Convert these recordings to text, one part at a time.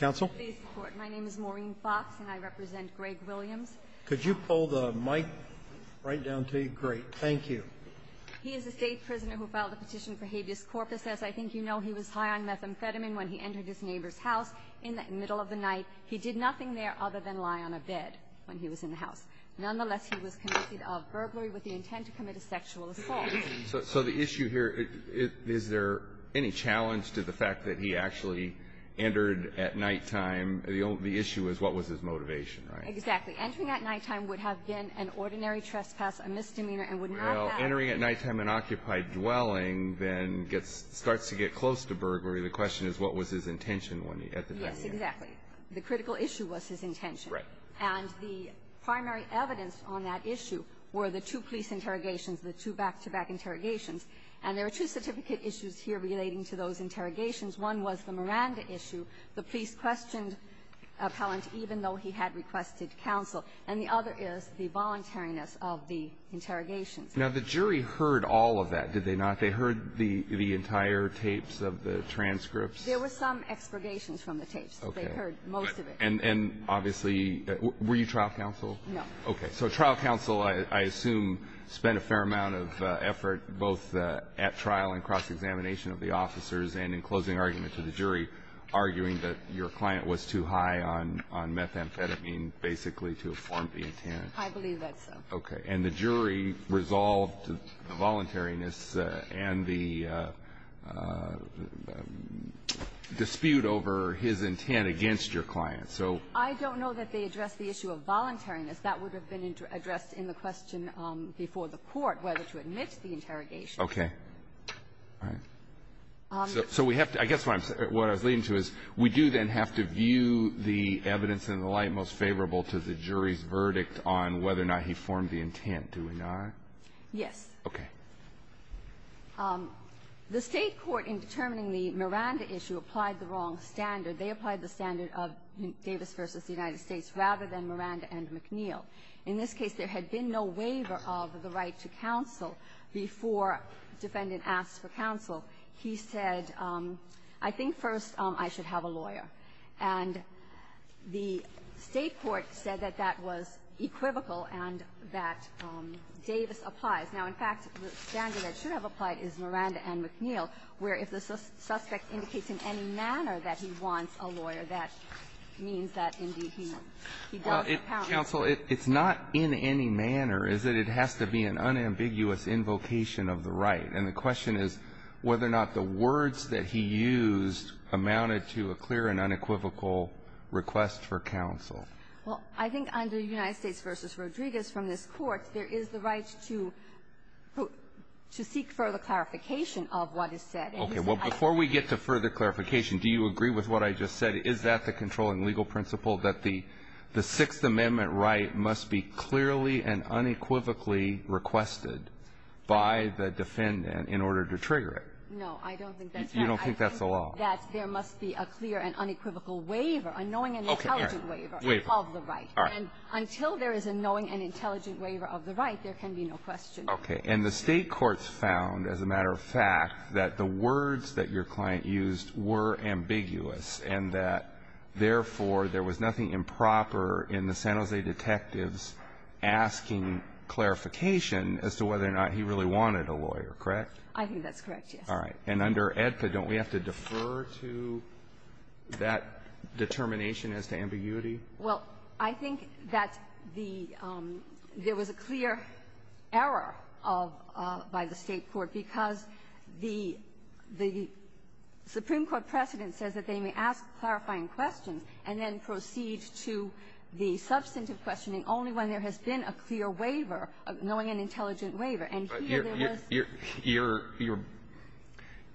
Court, my name is Maureen Fox, and I represent Greg Williams. Could you pull the mic right down to you? Great. Thank you. He is a state prisoner who filed a petition for habeas corpus. As I think you know, he was high on methamphetamine when he entered his neighbor's house in the middle of the night. He did nothing there other than lie on a bed when he was in the house. Nonetheless, he was convicted of burglary with the intent to commit a sexual assault. So the issue here, is there any challenge to the fact that he actually entered at nighttime? The issue is, what was his motivation, right? Exactly. Entering at nighttime would have been an ordinary trespass, a misdemeanor, and would not have been an occupied dwelling. Well, entering at nighttime, an occupied dwelling, then starts to get close to burglary. The question is, what was his intention at the time? Yes, exactly. The critical issue was his intention. Right. And the primary evidence on that issue were the two police interrogations, the two back-to-back interrogations. And there were two certificate issues here relating to those interrogations. One was the Miranda issue. The police questioned Appellant even though he had requested counsel. And the other is the voluntariness of the interrogations. Now, the jury heard all of that, did they not? They heard the entire tapes of the transcripts? There were some expurgations from the tapes. Okay. They heard most of it. And obviously, were you trial counsel? No. Okay. So trial counsel, I assume, spent a fair amount of effort both at trial and cross-examination of the officers and in closing argument to the jury, arguing that your client was too high on methamphetamine, basically, to have formed the intent. I believe that's so. Okay. And the jury resolved the voluntariness and the dispute over his intent against your client. I don't know that they addressed the issue of voluntariness. That would have been addressed in the question before the court, whether to admit the interrogation. Okay. All right. So we have to – I guess what I was leading to is we do then have to view the evidence and the like most favorable to the jury's verdict on whether or not he formed the intent, do we not? Yes. Okay. The State court, in determining the Miranda issue, applied the wrong standard. They applied the standard of Davis v. the United States rather than Miranda and McNeil. In this case, there had been no waiver of the right to counsel before defendant asked for counsel. He said, I think first I should have a lawyer. And the State court said that that was equivocal and that Davis applies. Now, in fact, the standard that should have applied is Miranda and McNeil, where if the suspect indicates in any manner that he wants a lawyer, that means that, indeed, he does have counsel. Counsel, it's not in any manner, is it? It has to be an unambiguous invocation of the right. And the question is whether or not the words that he used amounted to a clear and unequivocal request for counsel. Well, I think under United States v. Rodriguez from this Court, there is the right to seek further clarification of what is said. Okay. Well, before we get to further clarification, do you agree with what I just said? Is that the controlling legal principle, that the Sixth Amendment right must be clearly and unequivocally requested by the defendant in order to trigger it? No, I don't think that's how I think that's how I think that's how I think that there must be a clear and unequivocal waiver, a knowing and intelligent waiver. Waiver. Of the right. All right. And until there is a knowing and intelligent waiver of the right, there can be no question. Okay. And the State courts found, as a matter of fact, that the words that your client used were ambiguous, and that, therefore, there was nothing improper in the San Jose detectives asking clarification as to whether or not he really wanted a lawyer, correct? I think that's correct, yes. All right. And under AEDPA, don't we have to defer to that determination as to ambiguity? Well, I think that the there was a clear error of by the State court because the the Supreme Court precedent says that they may ask clarifying questions and then proceed to the substantive questioning only when there has been a clear waiver, a knowing and intelligent waiver, and here there was But you're you're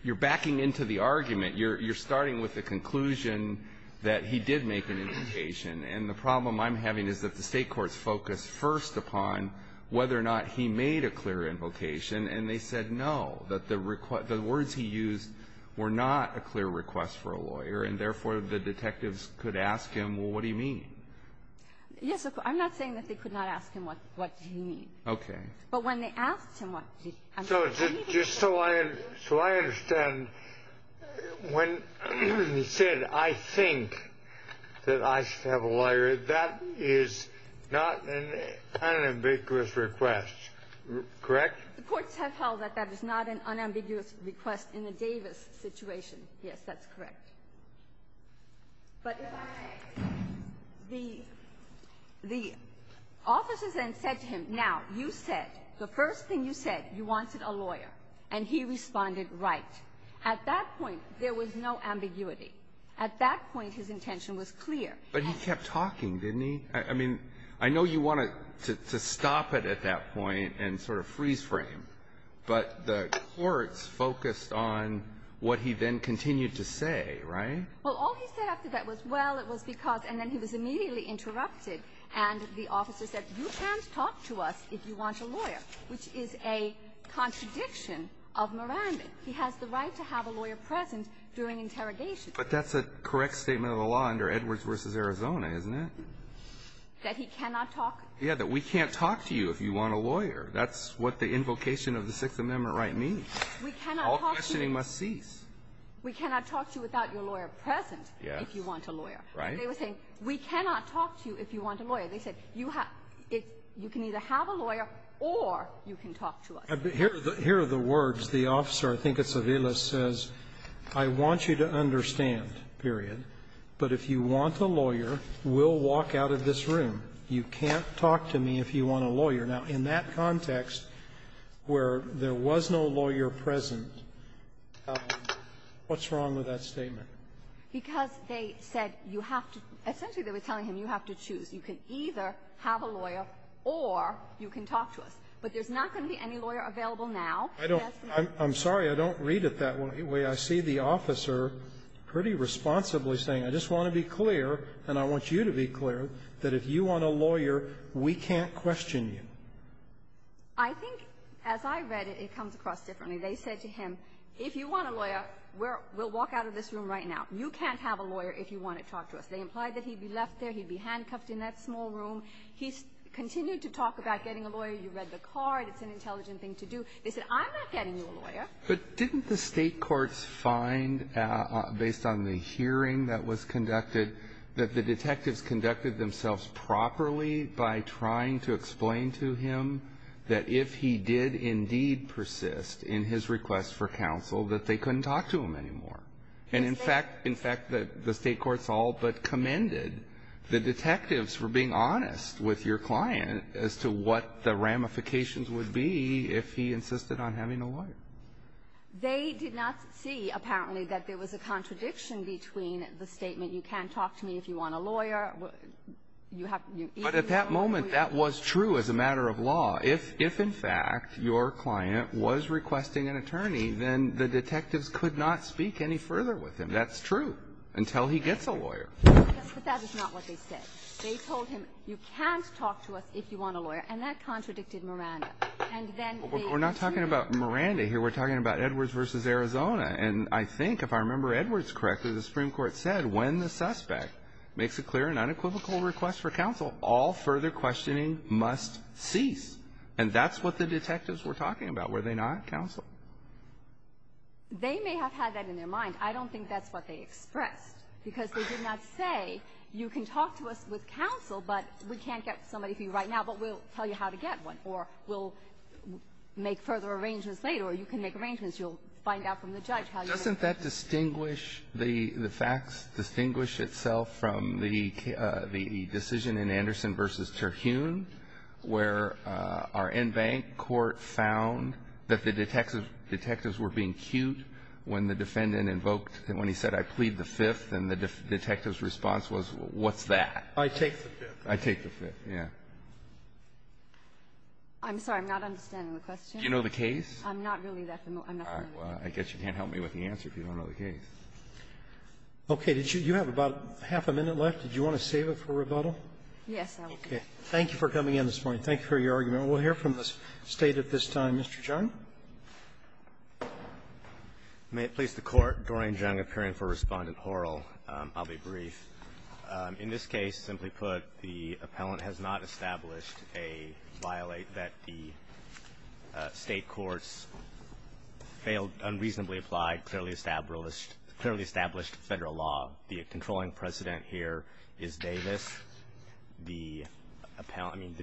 you're backing into the argument. You're you're starting with the conclusion that he did make an invocation. And the problem I'm having is that the State courts focused first upon whether or not he made a clear invocation. And they said, no, that the request the words he used were not a clear request for a lawyer. And therefore, the detectives could ask him, well, what do you mean? Yes, I'm not saying that they could not ask him what what do you mean? Okay. But when they asked him what he so just so I so I understand when he said, I think that I should have a lawyer, that is not an unambiguous request, correct? The courts have held that that is not an unambiguous request in the Davis situation. Yes, that's correct. But the the officers then said to him, now, you said the first thing you said, you wanted a lawyer, and he responded right. At that point, there was no ambiguity. At that point, his intention was clear. But he kept talking, didn't he? I mean, I know you wanted to stop it at that point and sort of freeze frame, but the courts focused on what he then continued to say. Right. Well, all he said after that was, well, it was because and then he was immediately interrupted. And the officer said, you can't talk to us if you want a lawyer, which is a contradiction of Moranbit. He has the right to have a lawyer present during interrogation. But that's a correct statement of the law under Edwards v. Arizona, isn't it? That he cannot talk? Yeah, that we can't talk to you if you want a lawyer. That's what the invocation of the Sixth Amendment right means. We cannot talk to you. All questioning must cease. We cannot talk to you without your lawyer present if you want a lawyer. Right. They were saying, we cannot talk to you if you want a lawyer. They said, you have to be able to have a lawyer or you can talk to us. Here are the words. The officer, I think it's Aviles, says, I want you to understand, period, but if you want a lawyer, we'll walk out of this room. You can't talk to me if you want a lawyer. Now, in that context, where there was no lawyer present, what's wrong with that statement? Because they said you have to – essentially, they were telling him you have to choose. You can either have a lawyer or you can talk to us. But there's not going to be any lawyer available now. I don't – I'm sorry. I don't read it that way. I see the officer pretty responsibly saying, I just want to be clear, and I want you to be clear, that if you want a lawyer, we can't question you. I think, as I read it, it comes across differently. They said to him, if you want a lawyer, we'll walk out of this room right now. You can't have a lawyer if you want to talk to us. They implied that he'd be left there, he'd be handcuffed in that small room. He continued to talk about getting a lawyer. You read the card. It's an intelligent thing to do. They said, I'm not getting you a lawyer. But didn't the state courts find, based on the hearing that was conducted, that the detectives conducted themselves properly by trying to explain to him that if he did indeed persist in his request for counsel, that they couldn't talk to him anymore? And in fact, in fact, the state courts all but commended the detectives for being honest with your client as to what the ramifications would be if he insisted on having a lawyer. They did not see, apparently, that there was a contradiction between the statement, you can't talk to me if you want a lawyer, you have to be a lawyer. But at that moment, that was true as a matter of law. If in fact, your client was requesting an attorney, then the detectives could not speak any further with him. That's true, until he gets a lawyer. But that is not what they said. They told him, you can't talk to us if you want a lawyer, and that contradicted Miranda. And then they- We're not talking about Miranda here. We're talking about Edwards v. Arizona. And I think, if I remember Edwards correctly, the Supreme Court said, when the suspect makes a clear and unequivocal request for counsel, all further questioning must cease. And that's what the detectives were talking about. Were they not, counsel? They may have had that in their mind. I don't think that's what they expressed, because they did not say, you can talk to us with counsel, but we can't get somebody for you right now, but we'll tell you how to get one, or we'll make further arrangements later, or you can make arrangements. You'll find out from the judge how you're going to- Doesn't that distinguish the facts, distinguish itself from the decision in Anderson v. Terhune, where our in-bank court found that the detectives were being cute when the defendant invoked, when he said, I plead the Fifth, and the detective's response was, what's that? I take the Fifth. I take the Fifth, yeah. I'm sorry. I'm not understanding the question. Do you know the case? I'm not really that familiar. I'm not familiar with the case. I guess you can't help me with the answer if you don't know the case. Okay. Did you have about half a minute left? Did you want to save it for rebuttal? Yes, I will. Okay. Thank you for coming in this morning. Thank you for your argument. We'll hear from the State at this time. Mr. Chung. May it please the Court, Doreen Chung, appearing for Respondent Horrell. I'll be brief. In this case, simply put, the appellant has not established a violate that the State courts failed, unreasonably applied, clearly established, clearly established federal law. The controlling precedent here is Davis. The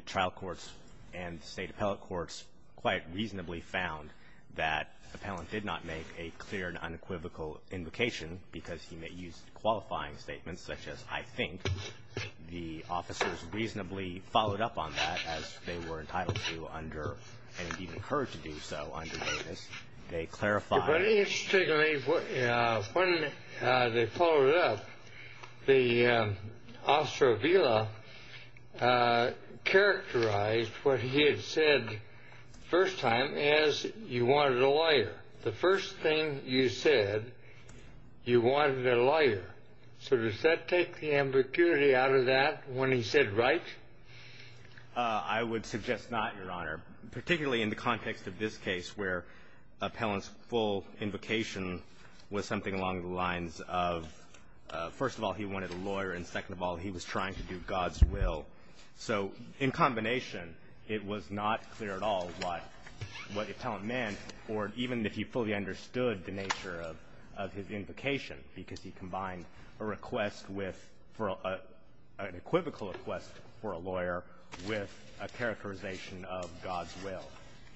trial courts and the State appellate courts quite reasonably found that the appellant did not make a clear and unequivocal invocation, because he may use qualifying statements such as, I think. The officers reasonably followed up on that as they were entitled to under, and even occurred to do so under Davis. They clarified. But interestingly, when they followed up, the officer of VILA characterized what he had said first time as you wanted a lawyer. The first thing you said, you wanted a lawyer. So does that take the ambiguity out of that when he said right? I would suggest not, Your Honor. Particularly in the context of this case, where appellant's full invocation was something along the lines of, first of all, he wanted a lawyer, and second of all, he was trying to do God's will. So in combination, it was not clear at all what the appellant meant, or even if he fully understood the nature of his invocation, because he combined a request with, an equivocal request for a lawyer, with a characterization of God's will.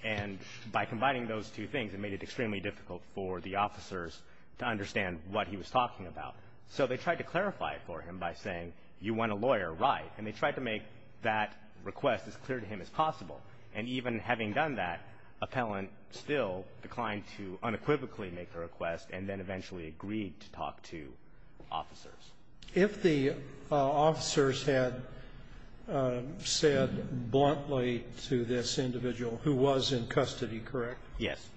And by combining those two things, it made it extremely difficult for the officers to understand what he was talking about. So they tried to clarify it for him by saying, you want a lawyer, right? And they tried to make that request as clear to him as possible. And even having done that, appellant still declined to unequivocally make the request, and then eventually agreed to talk to officers. If the officers had said bluntly to this individual, who was in custody, correct? Yes.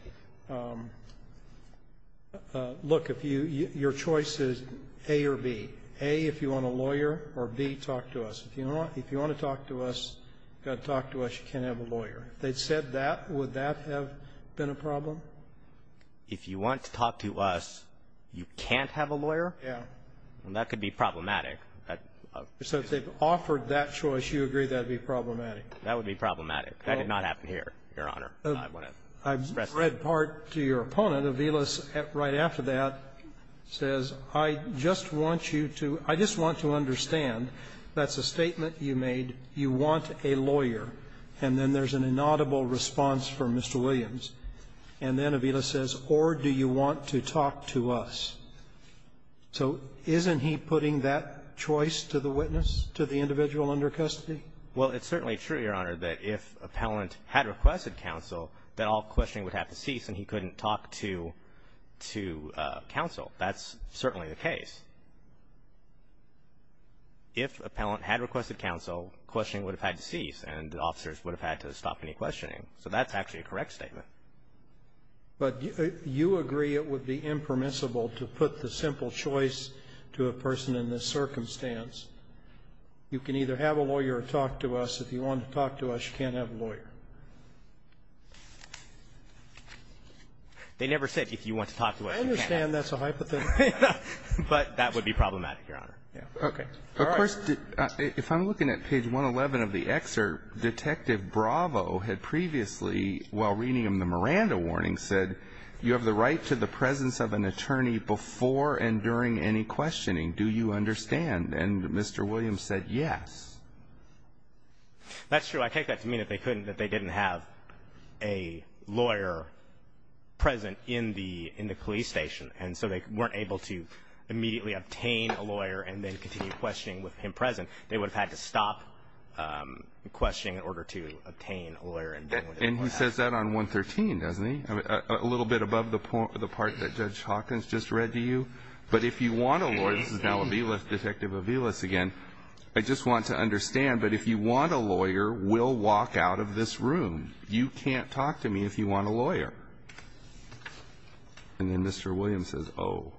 Look, if your choice is A or B, A, if you want a lawyer, or B, talk to us. If you want to talk to us, you've got to talk to us. You can't have a lawyer. If they'd said that, would that have been a problem? If you want to talk to us, you can't have a lawyer? Yeah. Well, that could be problematic. So if they've offered that choice, you agree that would be problematic? That would be problematic. That did not happen here, Your Honor. I've read part to your opponent of Iles, right after that, says, I just want you to — I just want to understand. That's a statement you made. You want a lawyer. And then there's an inaudible response from Mr. Williams. And then Avila says, or do you want to talk to us? So isn't he putting that choice to the witness, to the individual under custody? Well, it's certainly true, Your Honor, that if appellant had requested counsel, that all questioning would have to cease and he couldn't talk to — to counsel. That's certainly the case. If appellant had requested counsel, questioning would have had to cease and the officers would have had to stop any questioning. So that's actually a correct statement. But you agree it would be impermissible to put the simple choice to a person in this circumstance. You can either have a lawyer or talk to us. If you want to talk to us, you can't have a lawyer. They never said if you want to talk to us, you can't have a lawyer. I understand that's a hypothesis. But that would be problematic, Your Honor. Okay. Of course, if I'm looking at page 111 of the excerpt, Detective Bravo had previously, while reading him the Miranda warning, said, you have the right to the presence of an attorney before and during any questioning. Do you understand? And Mr. Williams said, yes. That's true. I take that to mean that they couldn't, that they didn't have a lawyer present in the — in the police station. And so they weren't able to immediately obtain a lawyer and then continue questioning with him present. They would have had to stop questioning in order to obtain a lawyer and then — And he says that on 113, doesn't he? I mean, a little bit above the part that Judge Hawkins just read to you. But if you want a lawyer — this is now Aviles, Detective Aviles again — I just want to understand, but if you want a lawyer, we'll walk out of this room. You can't talk to me if you want a lawyer. And then Mr. Williams says, oh.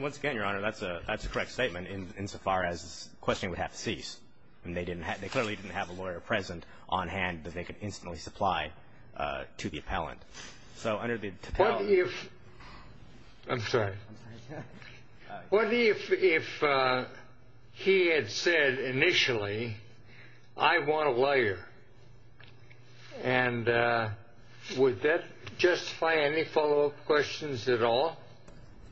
Once again, Your Honor, that's a — that's a correct statement insofar as questioning would have to cease. And they didn't have — they clearly didn't have a lawyer present on hand that they could instantly supply to the appellant. So under the — What if — I'm sorry. I'm sorry. What if he had said initially, I want a lawyer? And would that justify any follow-up questions at all?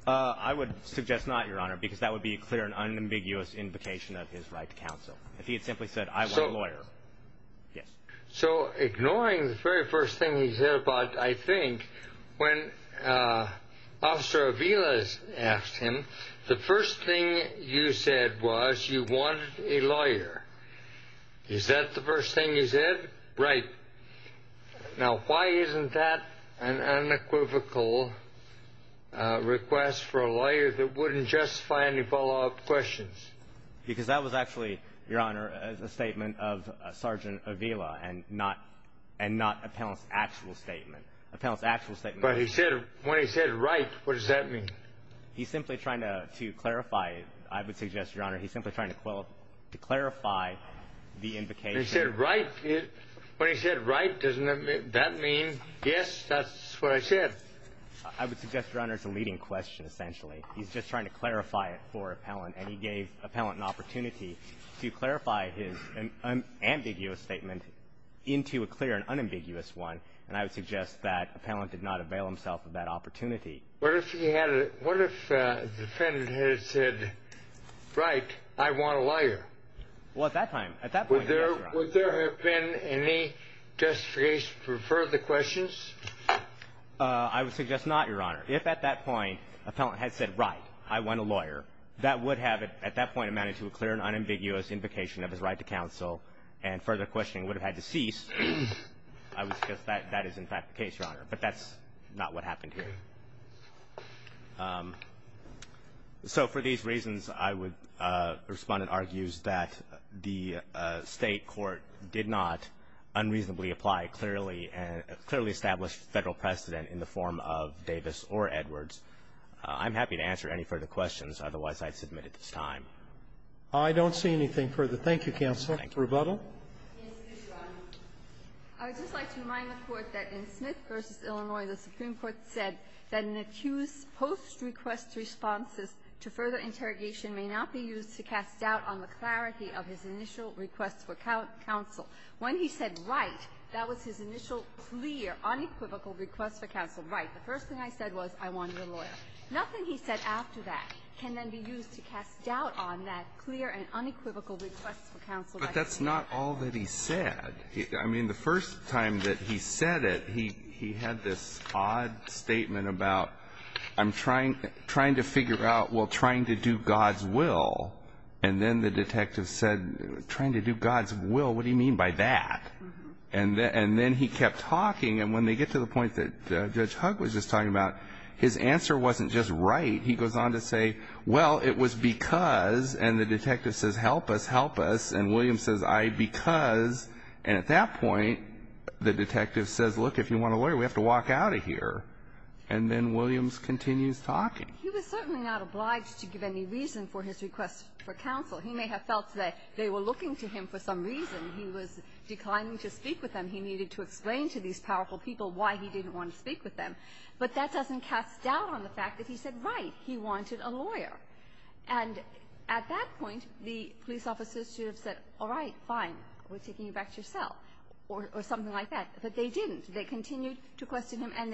I would suggest not, Your Honor, because that would be a clear and unambiguous invocation of his right to counsel. If he had simply said, I want a lawyer. Yes. So ignoring the very first thing he said about, I think, when Officer Aviles asked him, the first thing you said was you wanted a lawyer. Is that the first thing he said? Right. Now, why isn't that an unequivocal request for a lawyer that wouldn't justify any follow-up questions? Because that was actually, Your Honor, a statement of Sergeant Avila and not — and not appellant's actual statement. Appellant's actual statement — But he said — when he said right, what does that mean? He's simply trying to clarify. I would suggest, Your Honor, he's simply trying to clarify the invocation. He said right. When he said right, doesn't that mean, yes, that's what I said? I would suggest, Your Honor, it's a leading question, essentially. He's just trying to clarify it for appellant. And he gave appellant an opportunity to clarify his ambiguous statement into a clear and unambiguous one. And I would suggest that appellant did not avail himself of that opportunity. What if he had — what if the defendant had said, right, I want a lawyer? Well, at that time — at that point, yes, Your Honor. Would there have been any justification for further questions? I would suggest not, Your Honor. If, at that point, appellant had said, right, I want a lawyer, that would have, at that point, amounted to a clear and unambiguous invocation of his right to counsel. And further questioning would have had to cease. I would suggest that that is, in fact, the case, Your Honor. But that's not what happened here. So, for these reasons, I would respond and argue that the state court did not unreasonably apply a clearly established federal precedent in the form of Davis or Edwards. I'm happy to answer any further questions. Otherwise, I'd submit at this time. I don't see anything further. Thank you, Counsel. Thank you. Rebuttal? Yes, please, Your Honor. I would just like to remind the Court that in Smith v. Illinois, the Supreme Court said that an accused's post-request responses to further interrogation may not be used to cast doubt on the clarity of his initial requests for counsel. When he said, right, that was his initial clear, unequivocal request for counsel. Right. The first thing I said was, I want a lawyer. Nothing he said after that can then be used to cast doubt on that clear and unequivocal request for counsel. But that's not all that he said. I mean, the first time that he said it, he had this odd statement about, I'm trying to figure out, well, trying to do God's will. And then the detective said, trying to do God's will, what do you mean by that? And then he kept talking. And when they get to the point that Judge Hugg was just talking about, his answer wasn't just right. He goes on to say, well, it was because, and the detective says, help us, help us. And Williams says, I, because, and at that point, the detective says, look, if you want a lawyer, we have to walk out of here. And then Williams continues talking. He was certainly not obliged to give any reason for his request for counsel. He may have felt that they were looking to him for some reason. He was declining to speak with them. He needed to explain to these powerful people why he didn't want to speak with them. But that doesn't cast doubt on the fact that he said, right, he wanted a lawyer. And at that point, the police officers should have said, all right, fine, we're taking you back to your cell, or something like that. But they didn't. They continued to question him. And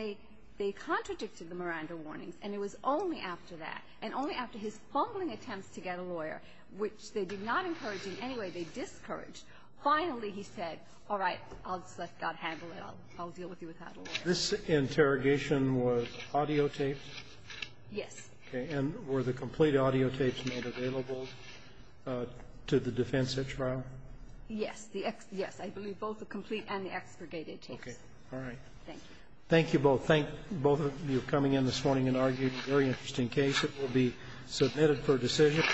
they contradicted the Miranda warnings. And it was only after that, and only after his fumbling attempts to get a lawyer, which they did not encourage in any way, they discouraged. Finally, he said, all right, I'll just let God handle it. I'll deal with you without a lawyer. This interrogation was audiotaped? Yes. Okay. And were the complete audiotapes made available to the defense at trial? Yes. Yes. I believe both the complete and the extradited tapes. Okay. All right. Thank you. Thank you both. Thank both of you for coming in this morning and arguing a very interesting case. It will be submitted for decision.